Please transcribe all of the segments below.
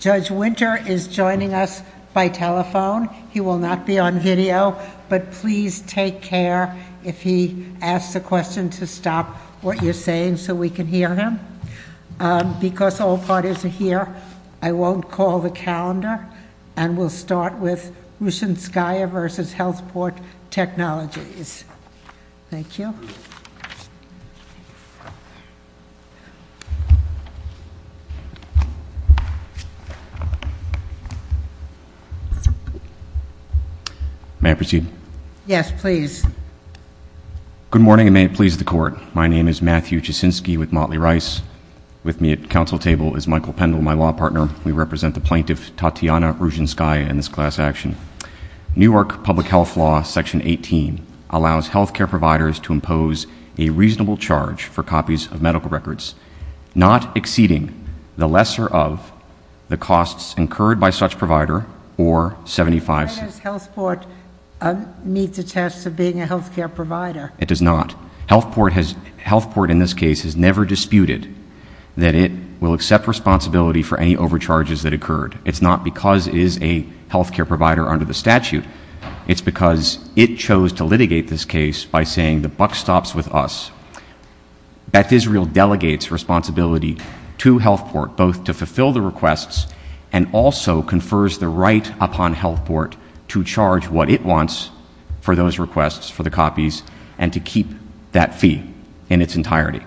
Judge Winter is joining us by telephone. He will not be on video, but please take care if he asks a question to stop what you're saying so we can hear him. Because all parties are here, I won't call the calendar and we'll start with Ruschenskaya v. HealthPort Technologies. Thank you. May I proceed? Yes, please. Good morning and may it please the Court. My name is Matthew Jasinski with Motley Rice. With me at council table is Michael Pendle, my law partner. We represent the plaintiff Tatyana Ruschenskaya in this class action. Newark Public Health Law section 18 allows health care providers to impose a reasonable charge for copies of medical records not exceeding the costs incurred by such provider or 75. Does HealthPort meet the test of being a health care provider? It does not. HealthPort has, HealthPort in this case has never disputed that it will accept responsibility for any overcharges that occurred. It's not because it is a health care provider under the statute, it's because it chose to litigate this case by saying the buck stops with us. Beth Israel delegates responsibility to HealthPort both to fulfill the request and also confers the right upon HealthPort to charge what it wants for those requests for the copies and to keep that fee in its entirety.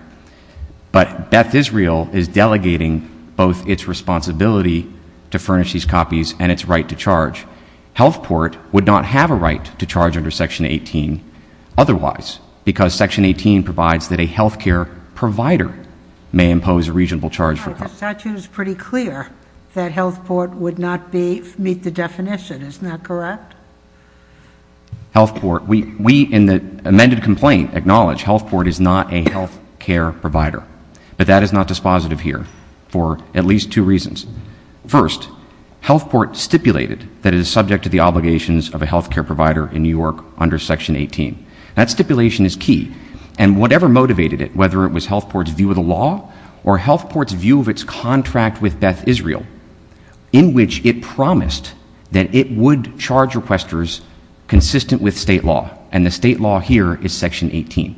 But Beth Israel is delegating both its responsibility to furnish these copies and its right to charge. HealthPort would not have a right to charge under section 18 otherwise because section 18 provides that a health care provider may that HealthPort would not be meet the definition, isn't that correct? HealthPort, we in the amended complaint acknowledge HealthPort is not a health care provider but that is not dispositive here for at least two reasons. First, HealthPort stipulated that it is subject to the obligations of a health care provider in New York under section 18. That stipulation is key and whatever motivated it, whether it was HealthPort's view of the law or HealthPort's view of its contract with Beth Israel, in which it promised that it would charge requesters consistent with state law and the state law here is section 18.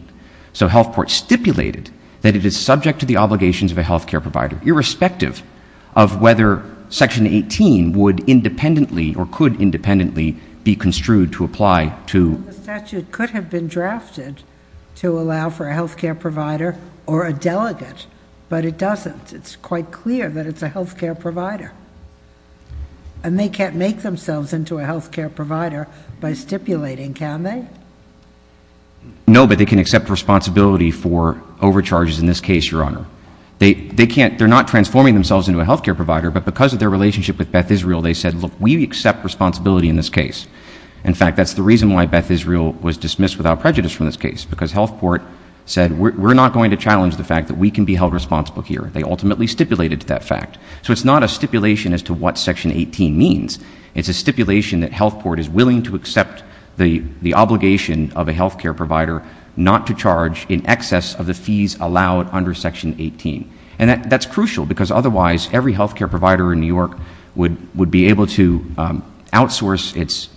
So HealthPort stipulated that it is subject to the obligations of a health care provider irrespective of whether section 18 would independently or could independently be construed to apply to... The statute could have been drafted to allow for a health care provider or a provider and they can't make themselves into a health care provider by stipulating, can they? No, but they can accept responsibility for overcharges in this case, Your Honor. They can't, they're not transforming themselves into a health care provider but because of their relationship with Beth Israel, they said, look, we accept responsibility in this case. In fact, that's the reason why Beth Israel was dismissed without prejudice from this case because HealthPort said we're not going to challenge the fact that we can be held responsible here. They ultimately stipulated that fact. So it's not a stipulation as to what section 18 means. It's a stipulation that HealthPort is willing to accept the obligation of a health care provider not to charge in excess of the fees allowed under section 18. And that's crucial because otherwise every health care provider in New York would be able to outsource its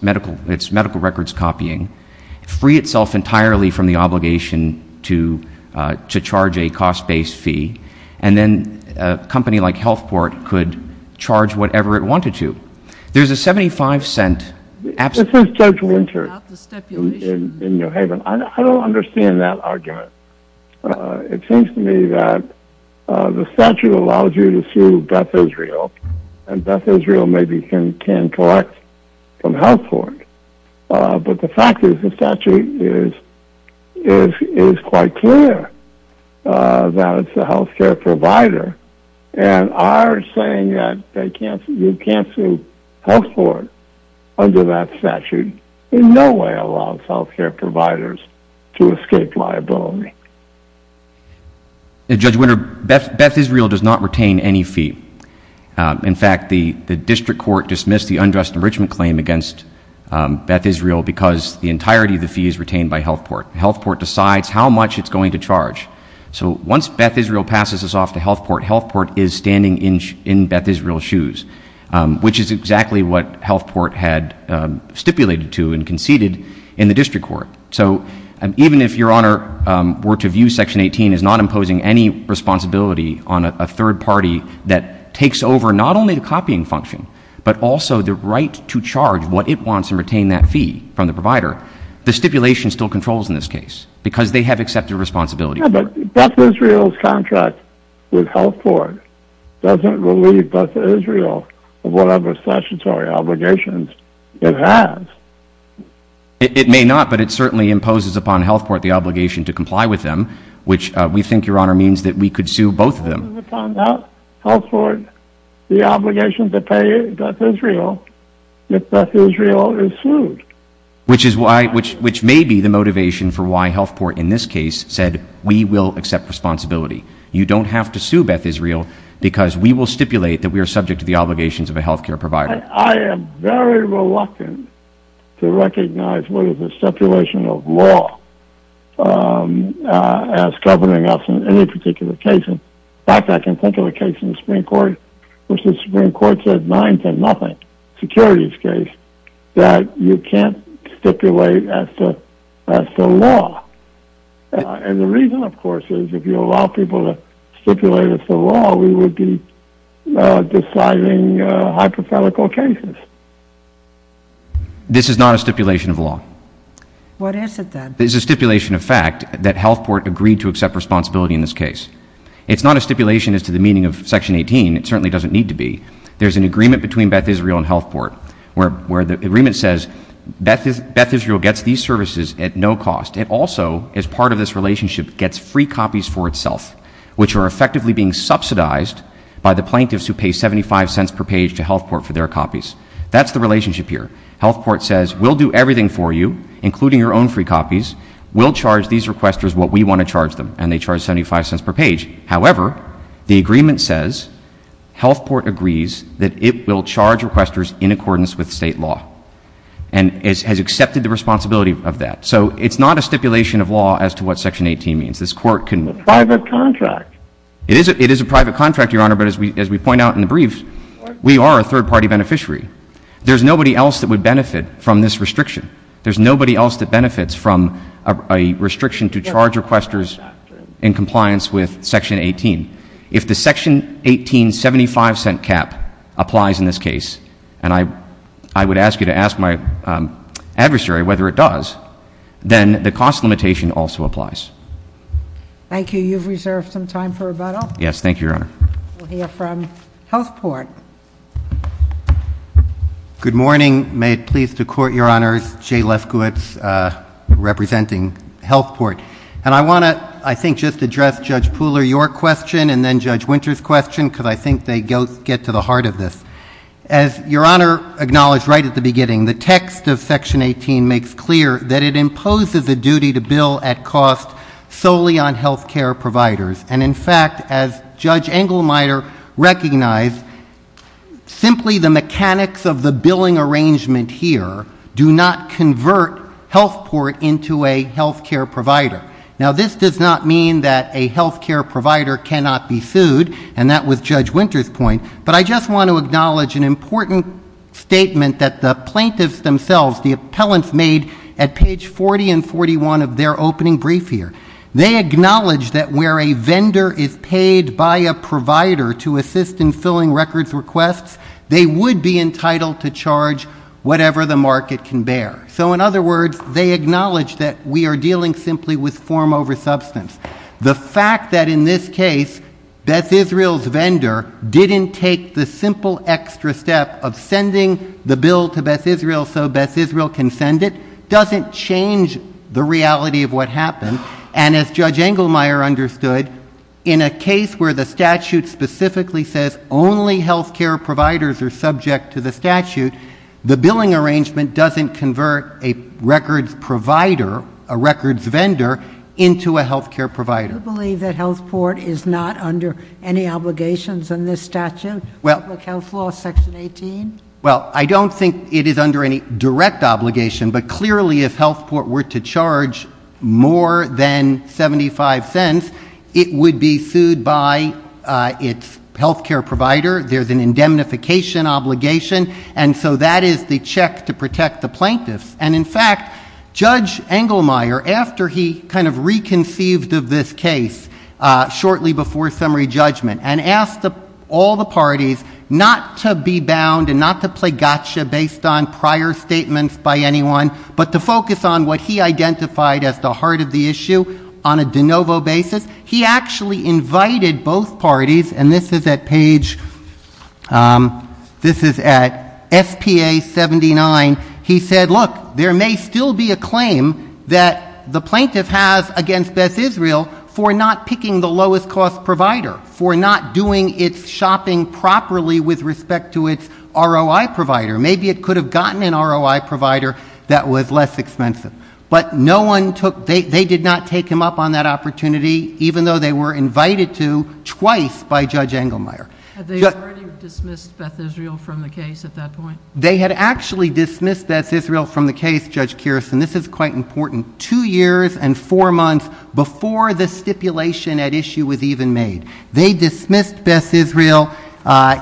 medical records copying, free itself entirely from the obligation to charge a cost-based fee, and then a company like HealthPort could charge whatever it wanted to. There's a 75-cent absence... This is Judge Winter in New Haven. I don't understand that argument. It seems to me that the statute allows you to sue Beth Israel and Beth Israel maybe can collect from HealthPort. But the fact is the statute is quite clear that it's the health care provider, and our saying that they can't... you can't sue HealthPort under that statute in no way allows health care providers to escape liability. Judge Winter, Beth Israel does not retain any fee. In fact, the district court dismissed the undressed enrichment claim against Beth Israel because the entirety of the fee is retained by HealthPort. HealthPort decides how much it's going to charge. So once Beth Israel passes this off to HealthPort, HealthPort is standing in Beth Israel's shoes, which is exactly what HealthPort had stipulated to and conceded in the district court. So even if Your Honor were to view section 18 as not imposing any responsibility on a third party that takes over not only the copying function, but also the right to charge what it wants and retain that fee from the provider, the stipulation still controls in this case because they have accepted responsibility. Yeah, but Beth Israel's contract with HealthPort doesn't relieve Beth Israel of whatever statutory obligations it has. It may not, but it certainly imposes upon HealthPort the obligation to comply with them, which we think, Your Honor, means that we could sue both of them. It turns out HealthPort, the obligation to pay Beth Israel if Beth Israel is sued. Which is why, which may be the motivation for why HealthPort in this case said we will accept responsibility. You don't have to sue Beth Israel because we will stipulate that we are subject to the obligations of a health care provider. I am very reluctant to recognize what is the stipulation of law as governing us in any particular case. In fact, I can think of a case in the Supreme Court said 9 to nothing, securities case, that you can't stipulate as the law. And the reason, of course, is if you allow people to stipulate as the law, we would be deciding hypothetical cases. This is not a stipulation of law. What is it then? This is a stipulation of fact that HealthPort agreed to accept responsibility in this case. It's not a stipulation as to the meaning of Section 18. It certainly doesn't need to be. There's an agreement between Beth Israel and HealthPort where the agreement says Beth Israel gets these services at no cost. It also, as part of this relationship, gets free copies for itself, which are effectively being subsidized by the plaintiffs who pay 75 cents per page to HealthPort for their copies. That's the relationship here. HealthPort says we'll do everything for you, including your own free copies. We'll charge these requesters what we want to charge them. And they charge 75 cents per page. However, the agreement says HealthPort agrees that it will charge requesters in accordance with State law and has accepted the responsibility of that. So it's not a stipulation of law as to what Section 18 means. This Court can — It's a private contract. It is a private contract, Your Honor, but as we point out in the brief, we are a third-party beneficiary. There's nobody else that would benefit from this restriction. There's nobody else that benefits from a restriction to charge requesters in compliance with Section 18. If the Section 18 75-cent cap applies in this case, and I would ask you to ask my adversary whether it does, then the cost limitation also applies. Thank you. You've reserved some time for rebuttal. Yes. Thank you, Your Honor. We'll hear from HealthPort. Good morning. May it please the Court, Your Honors. Jay Lefkowitz, representing HealthPort. And I want to, I think, just address Judge Pooler, your question, and then Judge Winter's question, because I think they get to the heart of this. As Your Honor acknowledged right at the beginning, the text of Section 18 makes clear that it imposes a duty to bill at cost solely on health care providers. And in fact, as Judge Engelmeyer recognized, simply the mechanics of the billing arrangement here do not convert HealthPort into a health care provider. Now, this does not mean that a health care provider cannot be sued, and that was Judge Winter's point, but I just want to acknowledge an important statement that the plaintiffs themselves, the appellants made at page 40 and 41 of their opening brief here. They acknowledge that where a vendor is paid by a provider to assist in filling records requests, they would be entitled to charge whatever the market can bear. So in other words, they acknowledge that we are dealing simply with form over substance. The fact that in this case Beth Israel's vendor didn't take the simple extra step of sending the bill to Beth Israel so Beth Israel can send it doesn't change the reality of what happened. And as Judge Engelmeyer said, only health care providers are subject to the statute. The billing arrangement doesn't convert a records provider, a records vendor, into a health care provider. Do you believe that HealthPort is not under any obligations in this statute, Public Health Law, Section 18? Well, I don't think it is under any direct obligation, but clearly if HealthPort were to charge more than 75 cents, it would be sued by its health care provider. There's an indemnification obligation, and so that is the check to protect the plaintiffs. And in fact, Judge Engelmeyer, after he kind of reconceived of this case shortly before summary judgment and asked all the parties not to be bound and not to play gotcha based on prior statements by anyone, but to focus on what he identified as the heart of the issue on a both parties, and this is at page, this is at SPA 79, he said, look, there may still be a claim that the plaintiff has against Beth Israel for not picking the lowest cost provider, for not doing its shopping properly with respect to its ROI provider. Maybe it could have gotten an ROI provider that was less expensive. But no one took, they did not take him up on that opportunity, even though they were invited to twice by Judge Engelmeyer. Had they already dismissed Beth Israel from the case at that point? They had actually dismissed Beth Israel from the case, Judge Kiersten. This is quite important. Two years and four months before the stipulation at issue was even made. They dismissed Beth Israel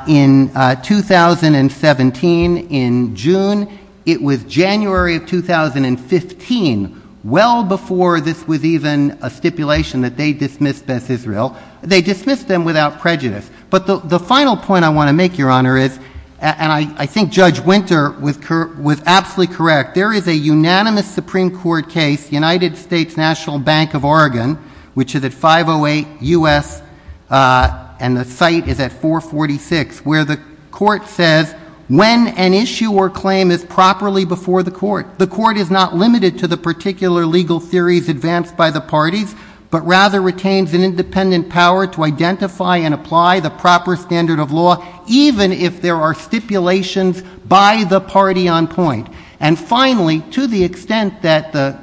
in 2017 in June. It was January of 2015, well before this was even a stipulation that they dismissed Beth Israel. They dismissed them without prejudice. But the final point I want to make, Your Honor, is, and I think Judge Winter was absolutely correct, there is a unanimous Supreme Court case, United States National Bank of Oregon, which is at 508 U.S., and the site is at 446, where the court says when an issue or the court is not limited to the particular legal theories advanced by the parties, but rather retains an independent power to identify and apply the proper standard of law, even if there are stipulations by the party on point. And finally, to the extent that the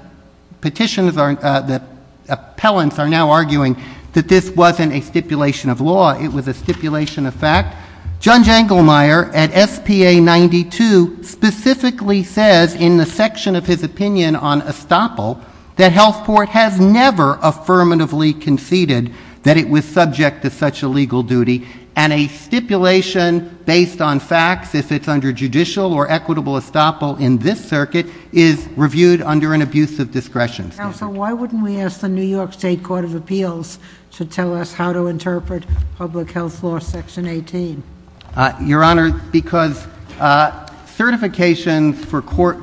petitions are, the appellants are now arguing that this wasn't a stipulation of law, it was a stipulation of fact. Judge Engelmeyer at SPA 92 specifically says in the section of his opinion on estoppel that health court has never affirmatively conceded that it was subject to such a legal duty. And a stipulation based on facts, if it's under judicial or equitable estoppel in this circuit, is reviewed under an abuse of discretion. Counsel, why wouldn't we ask the New York State Court of Appeals to tell us how to interpret public health law section 18? Your Honor, because certifications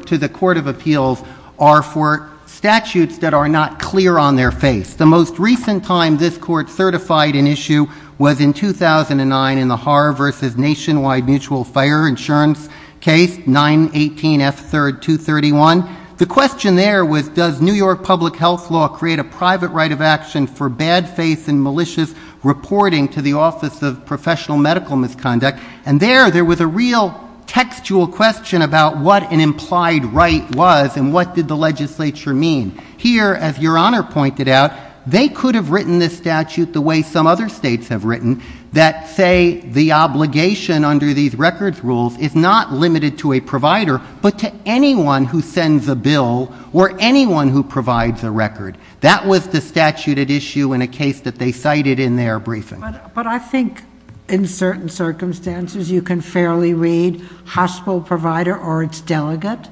to the Court of Appeals are for statutes that are not clear on their face. The most recent time this court certified an issue was in 2009 in the Haar v. Nationwide Mutual Fire Insurance case, 918 F. 3rd, 231. The question there was does New York public health law create a condition for bad faith and malicious reporting to the Office of Professional Medical Misconduct? And there, there was a real textual question about what an implied right was and what did the legislature mean. Here, as Your Honor pointed out, they could have written this statute the way some other states have written, that say the obligation under these records rules is not limited to a provider but to anyone who sends a bill or anyone who provides a record. That was the statute at issue in a case that they cited in their briefing. But I think in certain circumstances you can fairly read hospital provider or its delegate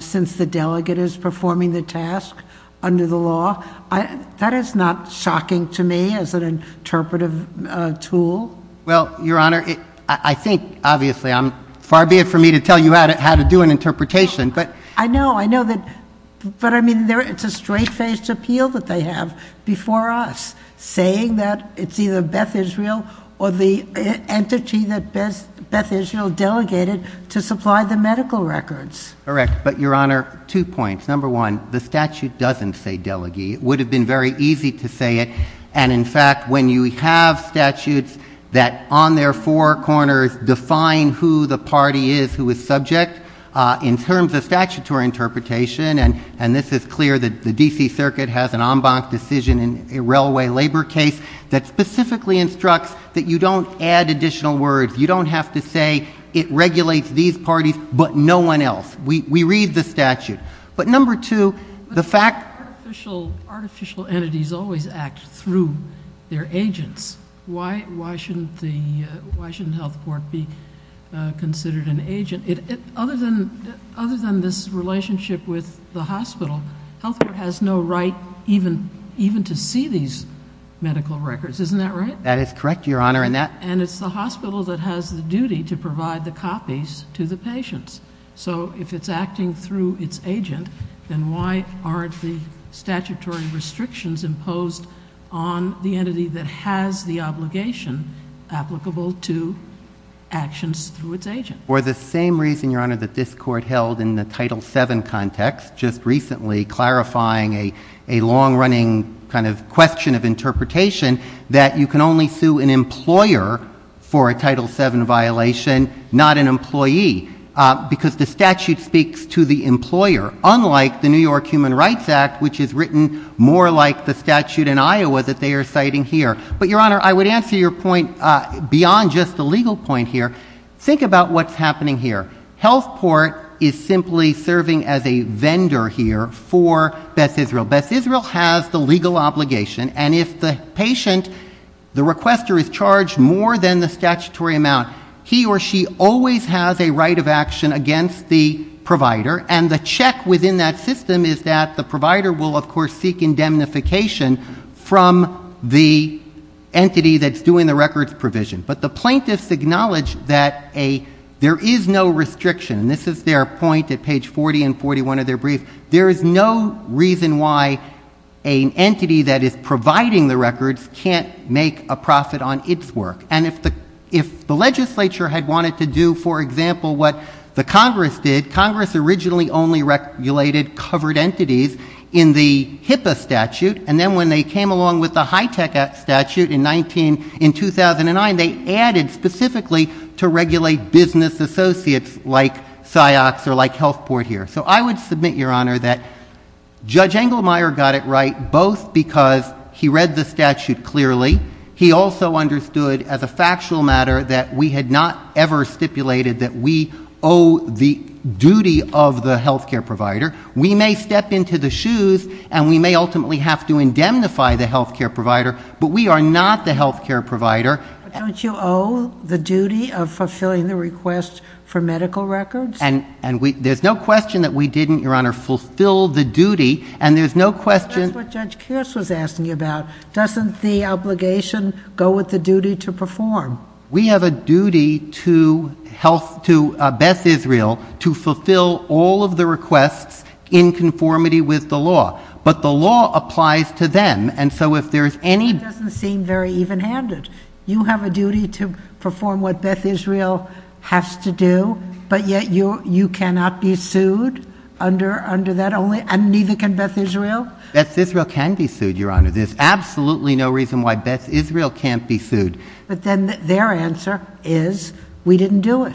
since the delegate is performing the task under the law. That is not shocking to me as an interpretive tool. Well, Your Honor, I think, obviously, far be it for me to tell you how to do an interpretation. I know, I know that, but I mean, it's a straight-faced appeal that they have before us, saying that it's either Beth Israel or the entity that Beth Israel delegated to supply the medical records. Correct, but Your Honor, two points. Number one, the statute doesn't say delegate. It would have been very easy to say it and, in fact, when you have statutes that, on their four corners, define who the party is who is subject, in terms of statutory interpretation, and this is clear that the D.C. Circuit has an en banc decision in a railway labor case that specifically instructs that you don't add additional words. You don't have to say, it regulates these parties but no one else. We read the statute. But number two, the fact... Artificial entities always act through their agents. Why shouldn't the health court be considered an agent? Other than this relationship with the hospital, health court has no right even to see these medical records, isn't that right? That is correct, Your Honor, and that... And it's the hospital that has the duty to provide the copies to the patients. So if it's acting through its agent, then why aren't the statutory restrictions imposed on the entity that has the obligation applicable to actions through its agent? For the same reason, Your Honor, that this court held in the Title VII context, just recently clarifying a long-running kind of question of interpretation, that you can only sue an employer for a Title VII violation, not an employee, because the statute speaks to the employer, unlike the New York statute, more like the statute in Iowa that they are citing here. But Your Honor, I would answer your point beyond just the legal point here. Think about what's happening here. Health court is simply serving as a vendor here for Beth Israel. Beth Israel has the legal obligation and if the patient, the requester, is charged more than the statutory amount, he or she always has a right of action against the provider and the check within that system is that the provider will, of course, seek indemnification from the entity that's doing the records provision. But the plaintiffs acknowledge that there is no restriction. This is their point at page 40 and 41 of their brief. There is no reason why an entity that is providing the records can't make a profit on its work. And if the legislature had wanted to do, for example, what the Congress did, Congress originally only regulated covered entities in the HIPAA statute and then when they came along with the HITECH statute in 2009, they added specifically to regulate business associates like PsyOx or like Health Port here. So I would submit, Your Honor, that Judge Engelmeyer got it right both because he read the statute clearly. He also understood as a factual matter that we had not ever stipulated that we owe the duty of the health care provider. We may step into the shoes and we may ultimately have to indemnify the health care provider, but we are not the health care provider. But don't you owe the duty of fulfilling the request for medical records? And there's no question that we didn't, Your Honor, fulfill the duty and there's no question. That's what Judge Kearse was asking about. Doesn't the obligation go with the duty to perform? We have a duty to Beth Israel to fulfill all of the requests in conformity with the law, but the law applies to them. And so if there's any... That doesn't seem very even-handed. You have a duty to perform what Beth Israel has to do, but yet you cannot be sued under that only? And neither can Beth Israel? Beth Israel can be sued, Your Honor. There's absolutely no reason why Beth Israel can't be sued. But then their answer is, we didn't do it.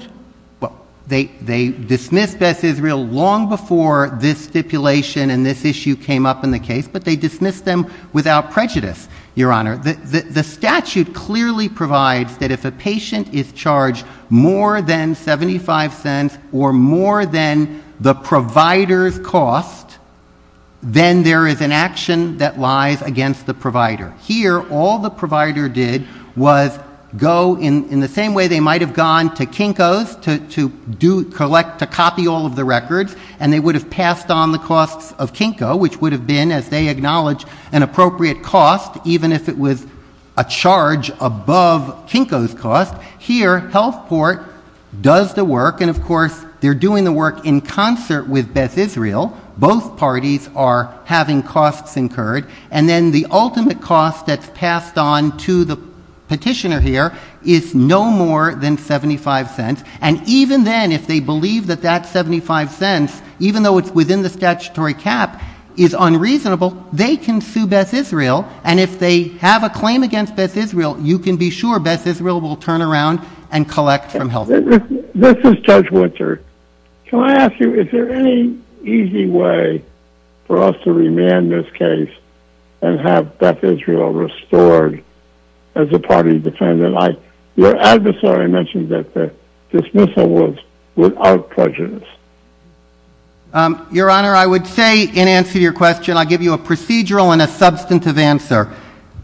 Well, they dismissed Beth Israel long before this stipulation and this issue came up in the case, but they dismissed them without prejudice, Your Honor. The statute clearly provides that if a patient is charged more than 75 cents or more than the provider's cost, then there is an action that lies against the provider. Here, all the provider did was go in the same way they might have gone to Kinko's to copy all of the records, and they would have passed on the costs of Kinko, which would have been, as they acknowledge, an appropriate cost, even if it was a charge above Kinko's cost. Here, Health Port does the work, and of course, they're doing the work in concert with Beth Israel. Both parties are having costs incurred, and then the ultimate cost that's passed on to the petitioner here is no more than 75 cents. And even then, if they believe that that 75 cents, even though it's within the statutory cap, is unreasonable, they can sue Beth Israel. And if they have a claim against Beth Israel, you can be sure Beth Israel will turn around and collect from Health Port. This is Judge Winter. Can I ask you, is there any easy way for us to remand this case and have Beth Israel restored as a party defendant? Your adversary mentioned that the dismissal was without prejudice. Your Honor, I would say, in answer to your question, I'll give you a procedural and a substantive answer.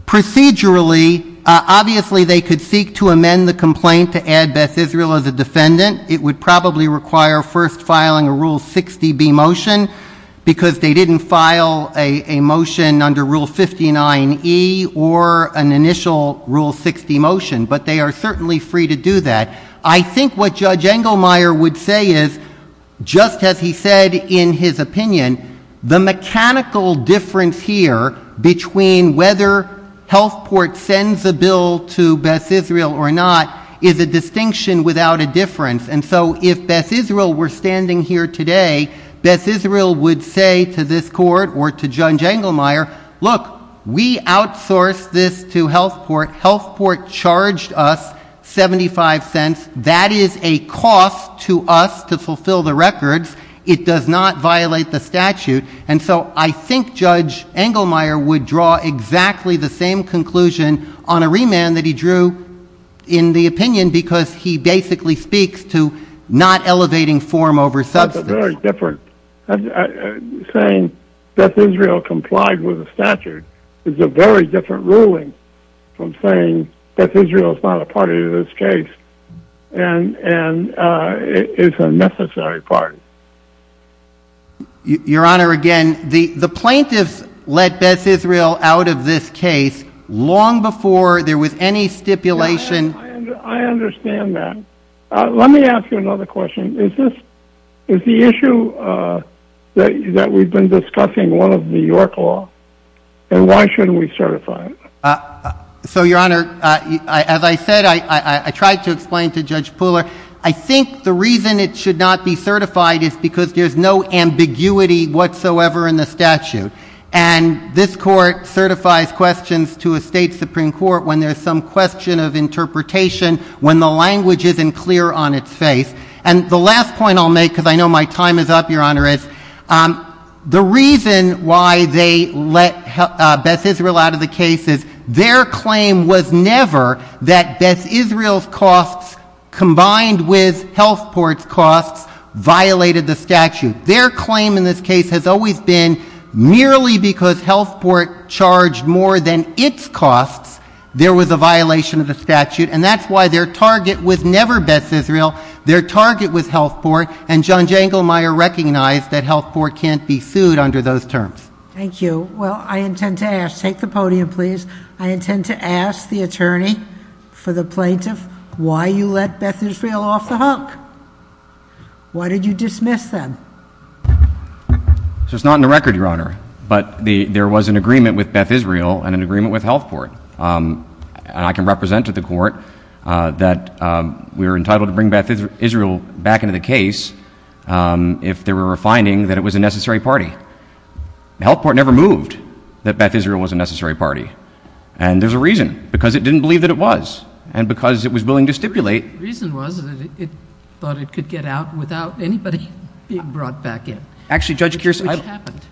Procedurally, obviously, they could seek to amend the complaint to add Beth Israel as a defendant. It would probably require first filing a Rule 60B motion, because they didn't file a motion under Rule 59E or an initial Rule 60 motion. But they are certainly free to do that. I think what Judge Engelmeyer would say is, just as he said in his opinion, the mechanical difference here between whether Health Port sends a bill to Beth Israel is a distinction without a difference. And so if Beth Israel were standing here today, Beth Israel would say to this court or to Judge Engelmeyer, look, we outsourced this to Health Port. Health Port charged us $0.75. That is a cost to us to fulfill the records. It does not violate the statute. And so I think Judge Engelmeyer would draw exactly the same conclusion on a different opinion, because he basically speaks to not elevating form over substance. That's a very different. Saying Beth Israel complied with the statute is a very different ruling from saying Beth Israel is not a party to this case and is a necessary party. Your Honor, again, the plaintiffs let Beth Israel out of this case long before there was any stipulation. I understand that. Let me ask you another question. Is the issue that we've been discussing one of the York Law, and why shouldn't we certify it? So, Your Honor, as I said, I tried to explain to Judge Pooler, I think the reason it should not be certified is because there's no ambiguity whatsoever in the statute. And this court certifies questions to a state Supreme Court when there's some question of interpretation, when the language isn't clear on its face. And the last point I'll make, because I know my time is up, Your Honor, is the reason why they let Beth Israel out of the case is their claim was never that Beth Israel's costs combined with Health Port's costs violated the statute. Their claim in this case has always been merely because Health Port charged more than its costs, there was a violation of the statute. And that's why their target was never Beth Israel. Their target was Health Port. And John Jengelmeyer recognized that Health Port can't be sued under those terms. Thank you. Well, I intend to ask, take the podium, please. I intend to ask the attorney for the plaintiff, why you let Beth Israel off the hunk? Why did you dismiss them? So it's not in the record, Your Honor, but there was an agreement with Beth Israel and an agreement with Health Port. And I can represent to the Court that we were entitled to bring Beth Israel back into the case if there were a finding that it was a necessary party. Health Port never moved that Beth Israel was a necessary party. And there's a reason, because it didn't believe that it was, and because it was willing to stipulate. The reason was that it thought it could get out without anybody being brought back in. Actually, Judge Kearse,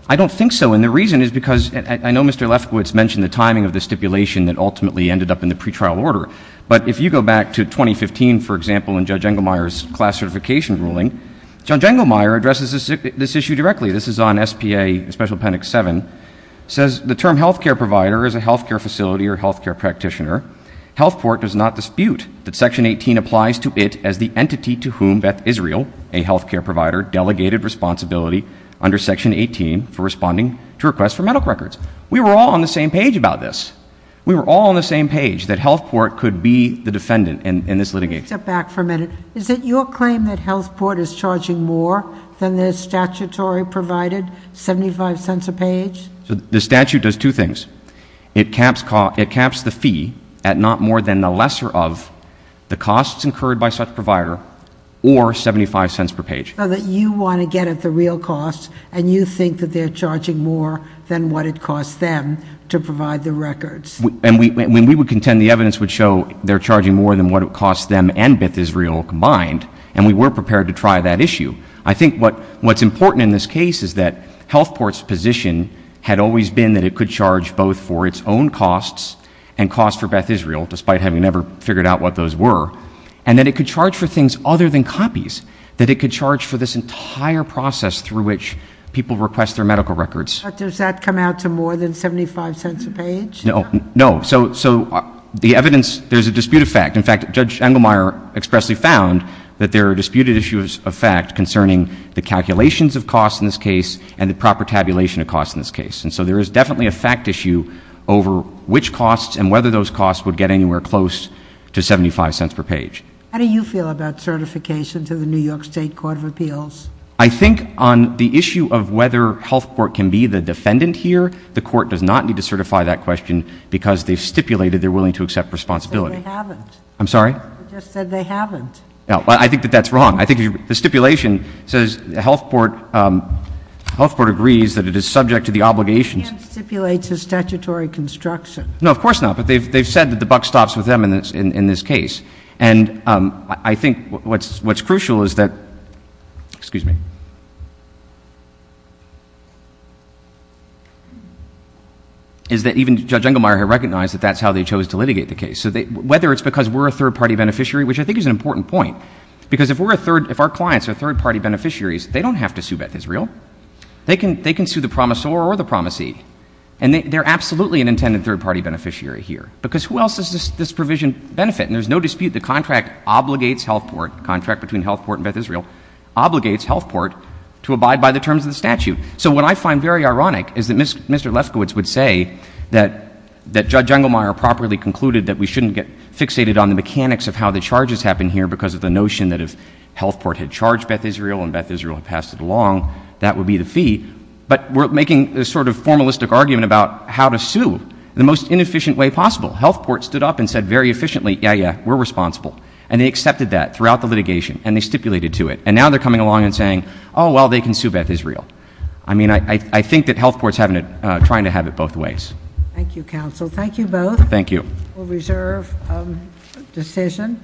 I don't think so. And the reason is because I know Mr. Lefkowitz mentioned the timing of the stipulation that ultimately ended up in the pretrial order. But if you go back to 2015, for example, in Judge Jengelmeyer's class certification ruling, John Jengelmeyer addresses this issue directly. This is on SPA Special Appendix 7, says the term health care provider is a health care facility or health care practitioner. Health Port does not dispute that Section 18 applies to it as the entity to whom Beth Israel, a health care provider, delegated responsibility under Section 18 for responding to requests for medical records. We were all on the same page about this. We were all on the same page that Health Port could be the defendant in this litigation. Step back for a minute. Is it your claim that Health Port is charging more than the statutory provided, 75 cents a page? The statute does two things. It caps the fee at not more than the lesser of the costs incurred by such provider or 75 cents per page. So that you want to get at the real costs and you think that they're charging more than what it costs them to provide the records. And we would contend the evidence would show they're charging more than what it costs them and Beth Israel combined, and we were prepared to try that issue. I think what's important in this case is that Health Port's position had always been that it could charge both for its own costs and costs for Beth Israel, despite having never figured out what those were, and that it could charge for things other than copies, that it could charge for this entire process through which people request their medical records. But does that come out to more than 75 cents a page? No. No. So the evidence, there's a dispute of fact. In fact, Judge Engelmeyer expressly found that there are disputed issues of fact concerning the calculations of costs in this case and the proper tabulation of costs in this case. And so there is definitely a fact issue over which costs and whether those costs would get anywhere close to 75 cents per page. How do you feel about certification to the New York State Court of Appeals? I think on the issue of whether Health Port can be the defendant here, the court does not need to certify that question because they've stipulated they're willing to accept responsibility. But they haven't. I'm sorry? You just said they haven't. No. I think that that's wrong. I think the stipulation says Health Port agrees that it is subject to the obligations. But they can't stipulate the statutory construction. No, of course not. But they've said that the buck stops with them in this case. And I think what's crucial is that—excuse me—is that even Judge Engelmeyer had recognized that that's how they chose to litigate the case. So whether it's because we're a third-party beneficiary, which I think is an important point, because if we're a third—if our clients are third-party beneficiaries, they don't have to sue Beth Israel. They can sue the promisor or the promisee. And they're absolutely an intended third-party beneficiary here because who else does this provision benefit? And there's no dispute the contract obligates Health Port—the contract between Health Port and Beth Israel—obligates Health Port to abide by the terms of the statute. So what I find very ironic is that Mr. Lefkowitz would say that Judge Engelmeyer properly concluded that we shouldn't get fixated on the mechanics of how the charges happen here because of the notion that if Health Port had charged Beth Israel and Beth Israel had passed it along, that would be the fee. But we're making a sort of formalistic argument about how to sue in the most inefficient way possible. Health Port stood up and said very efficiently, yeah, yeah, we're responsible. And they accepted that throughout the litigation and they stipulated to it. And now they're coming along and saying, oh, well, they can sue Beth Israel. I mean, I think that Health Port's having it—trying to have it both ways. Thank you, counsel. Thank you both. Thank you. We'll reserve decision.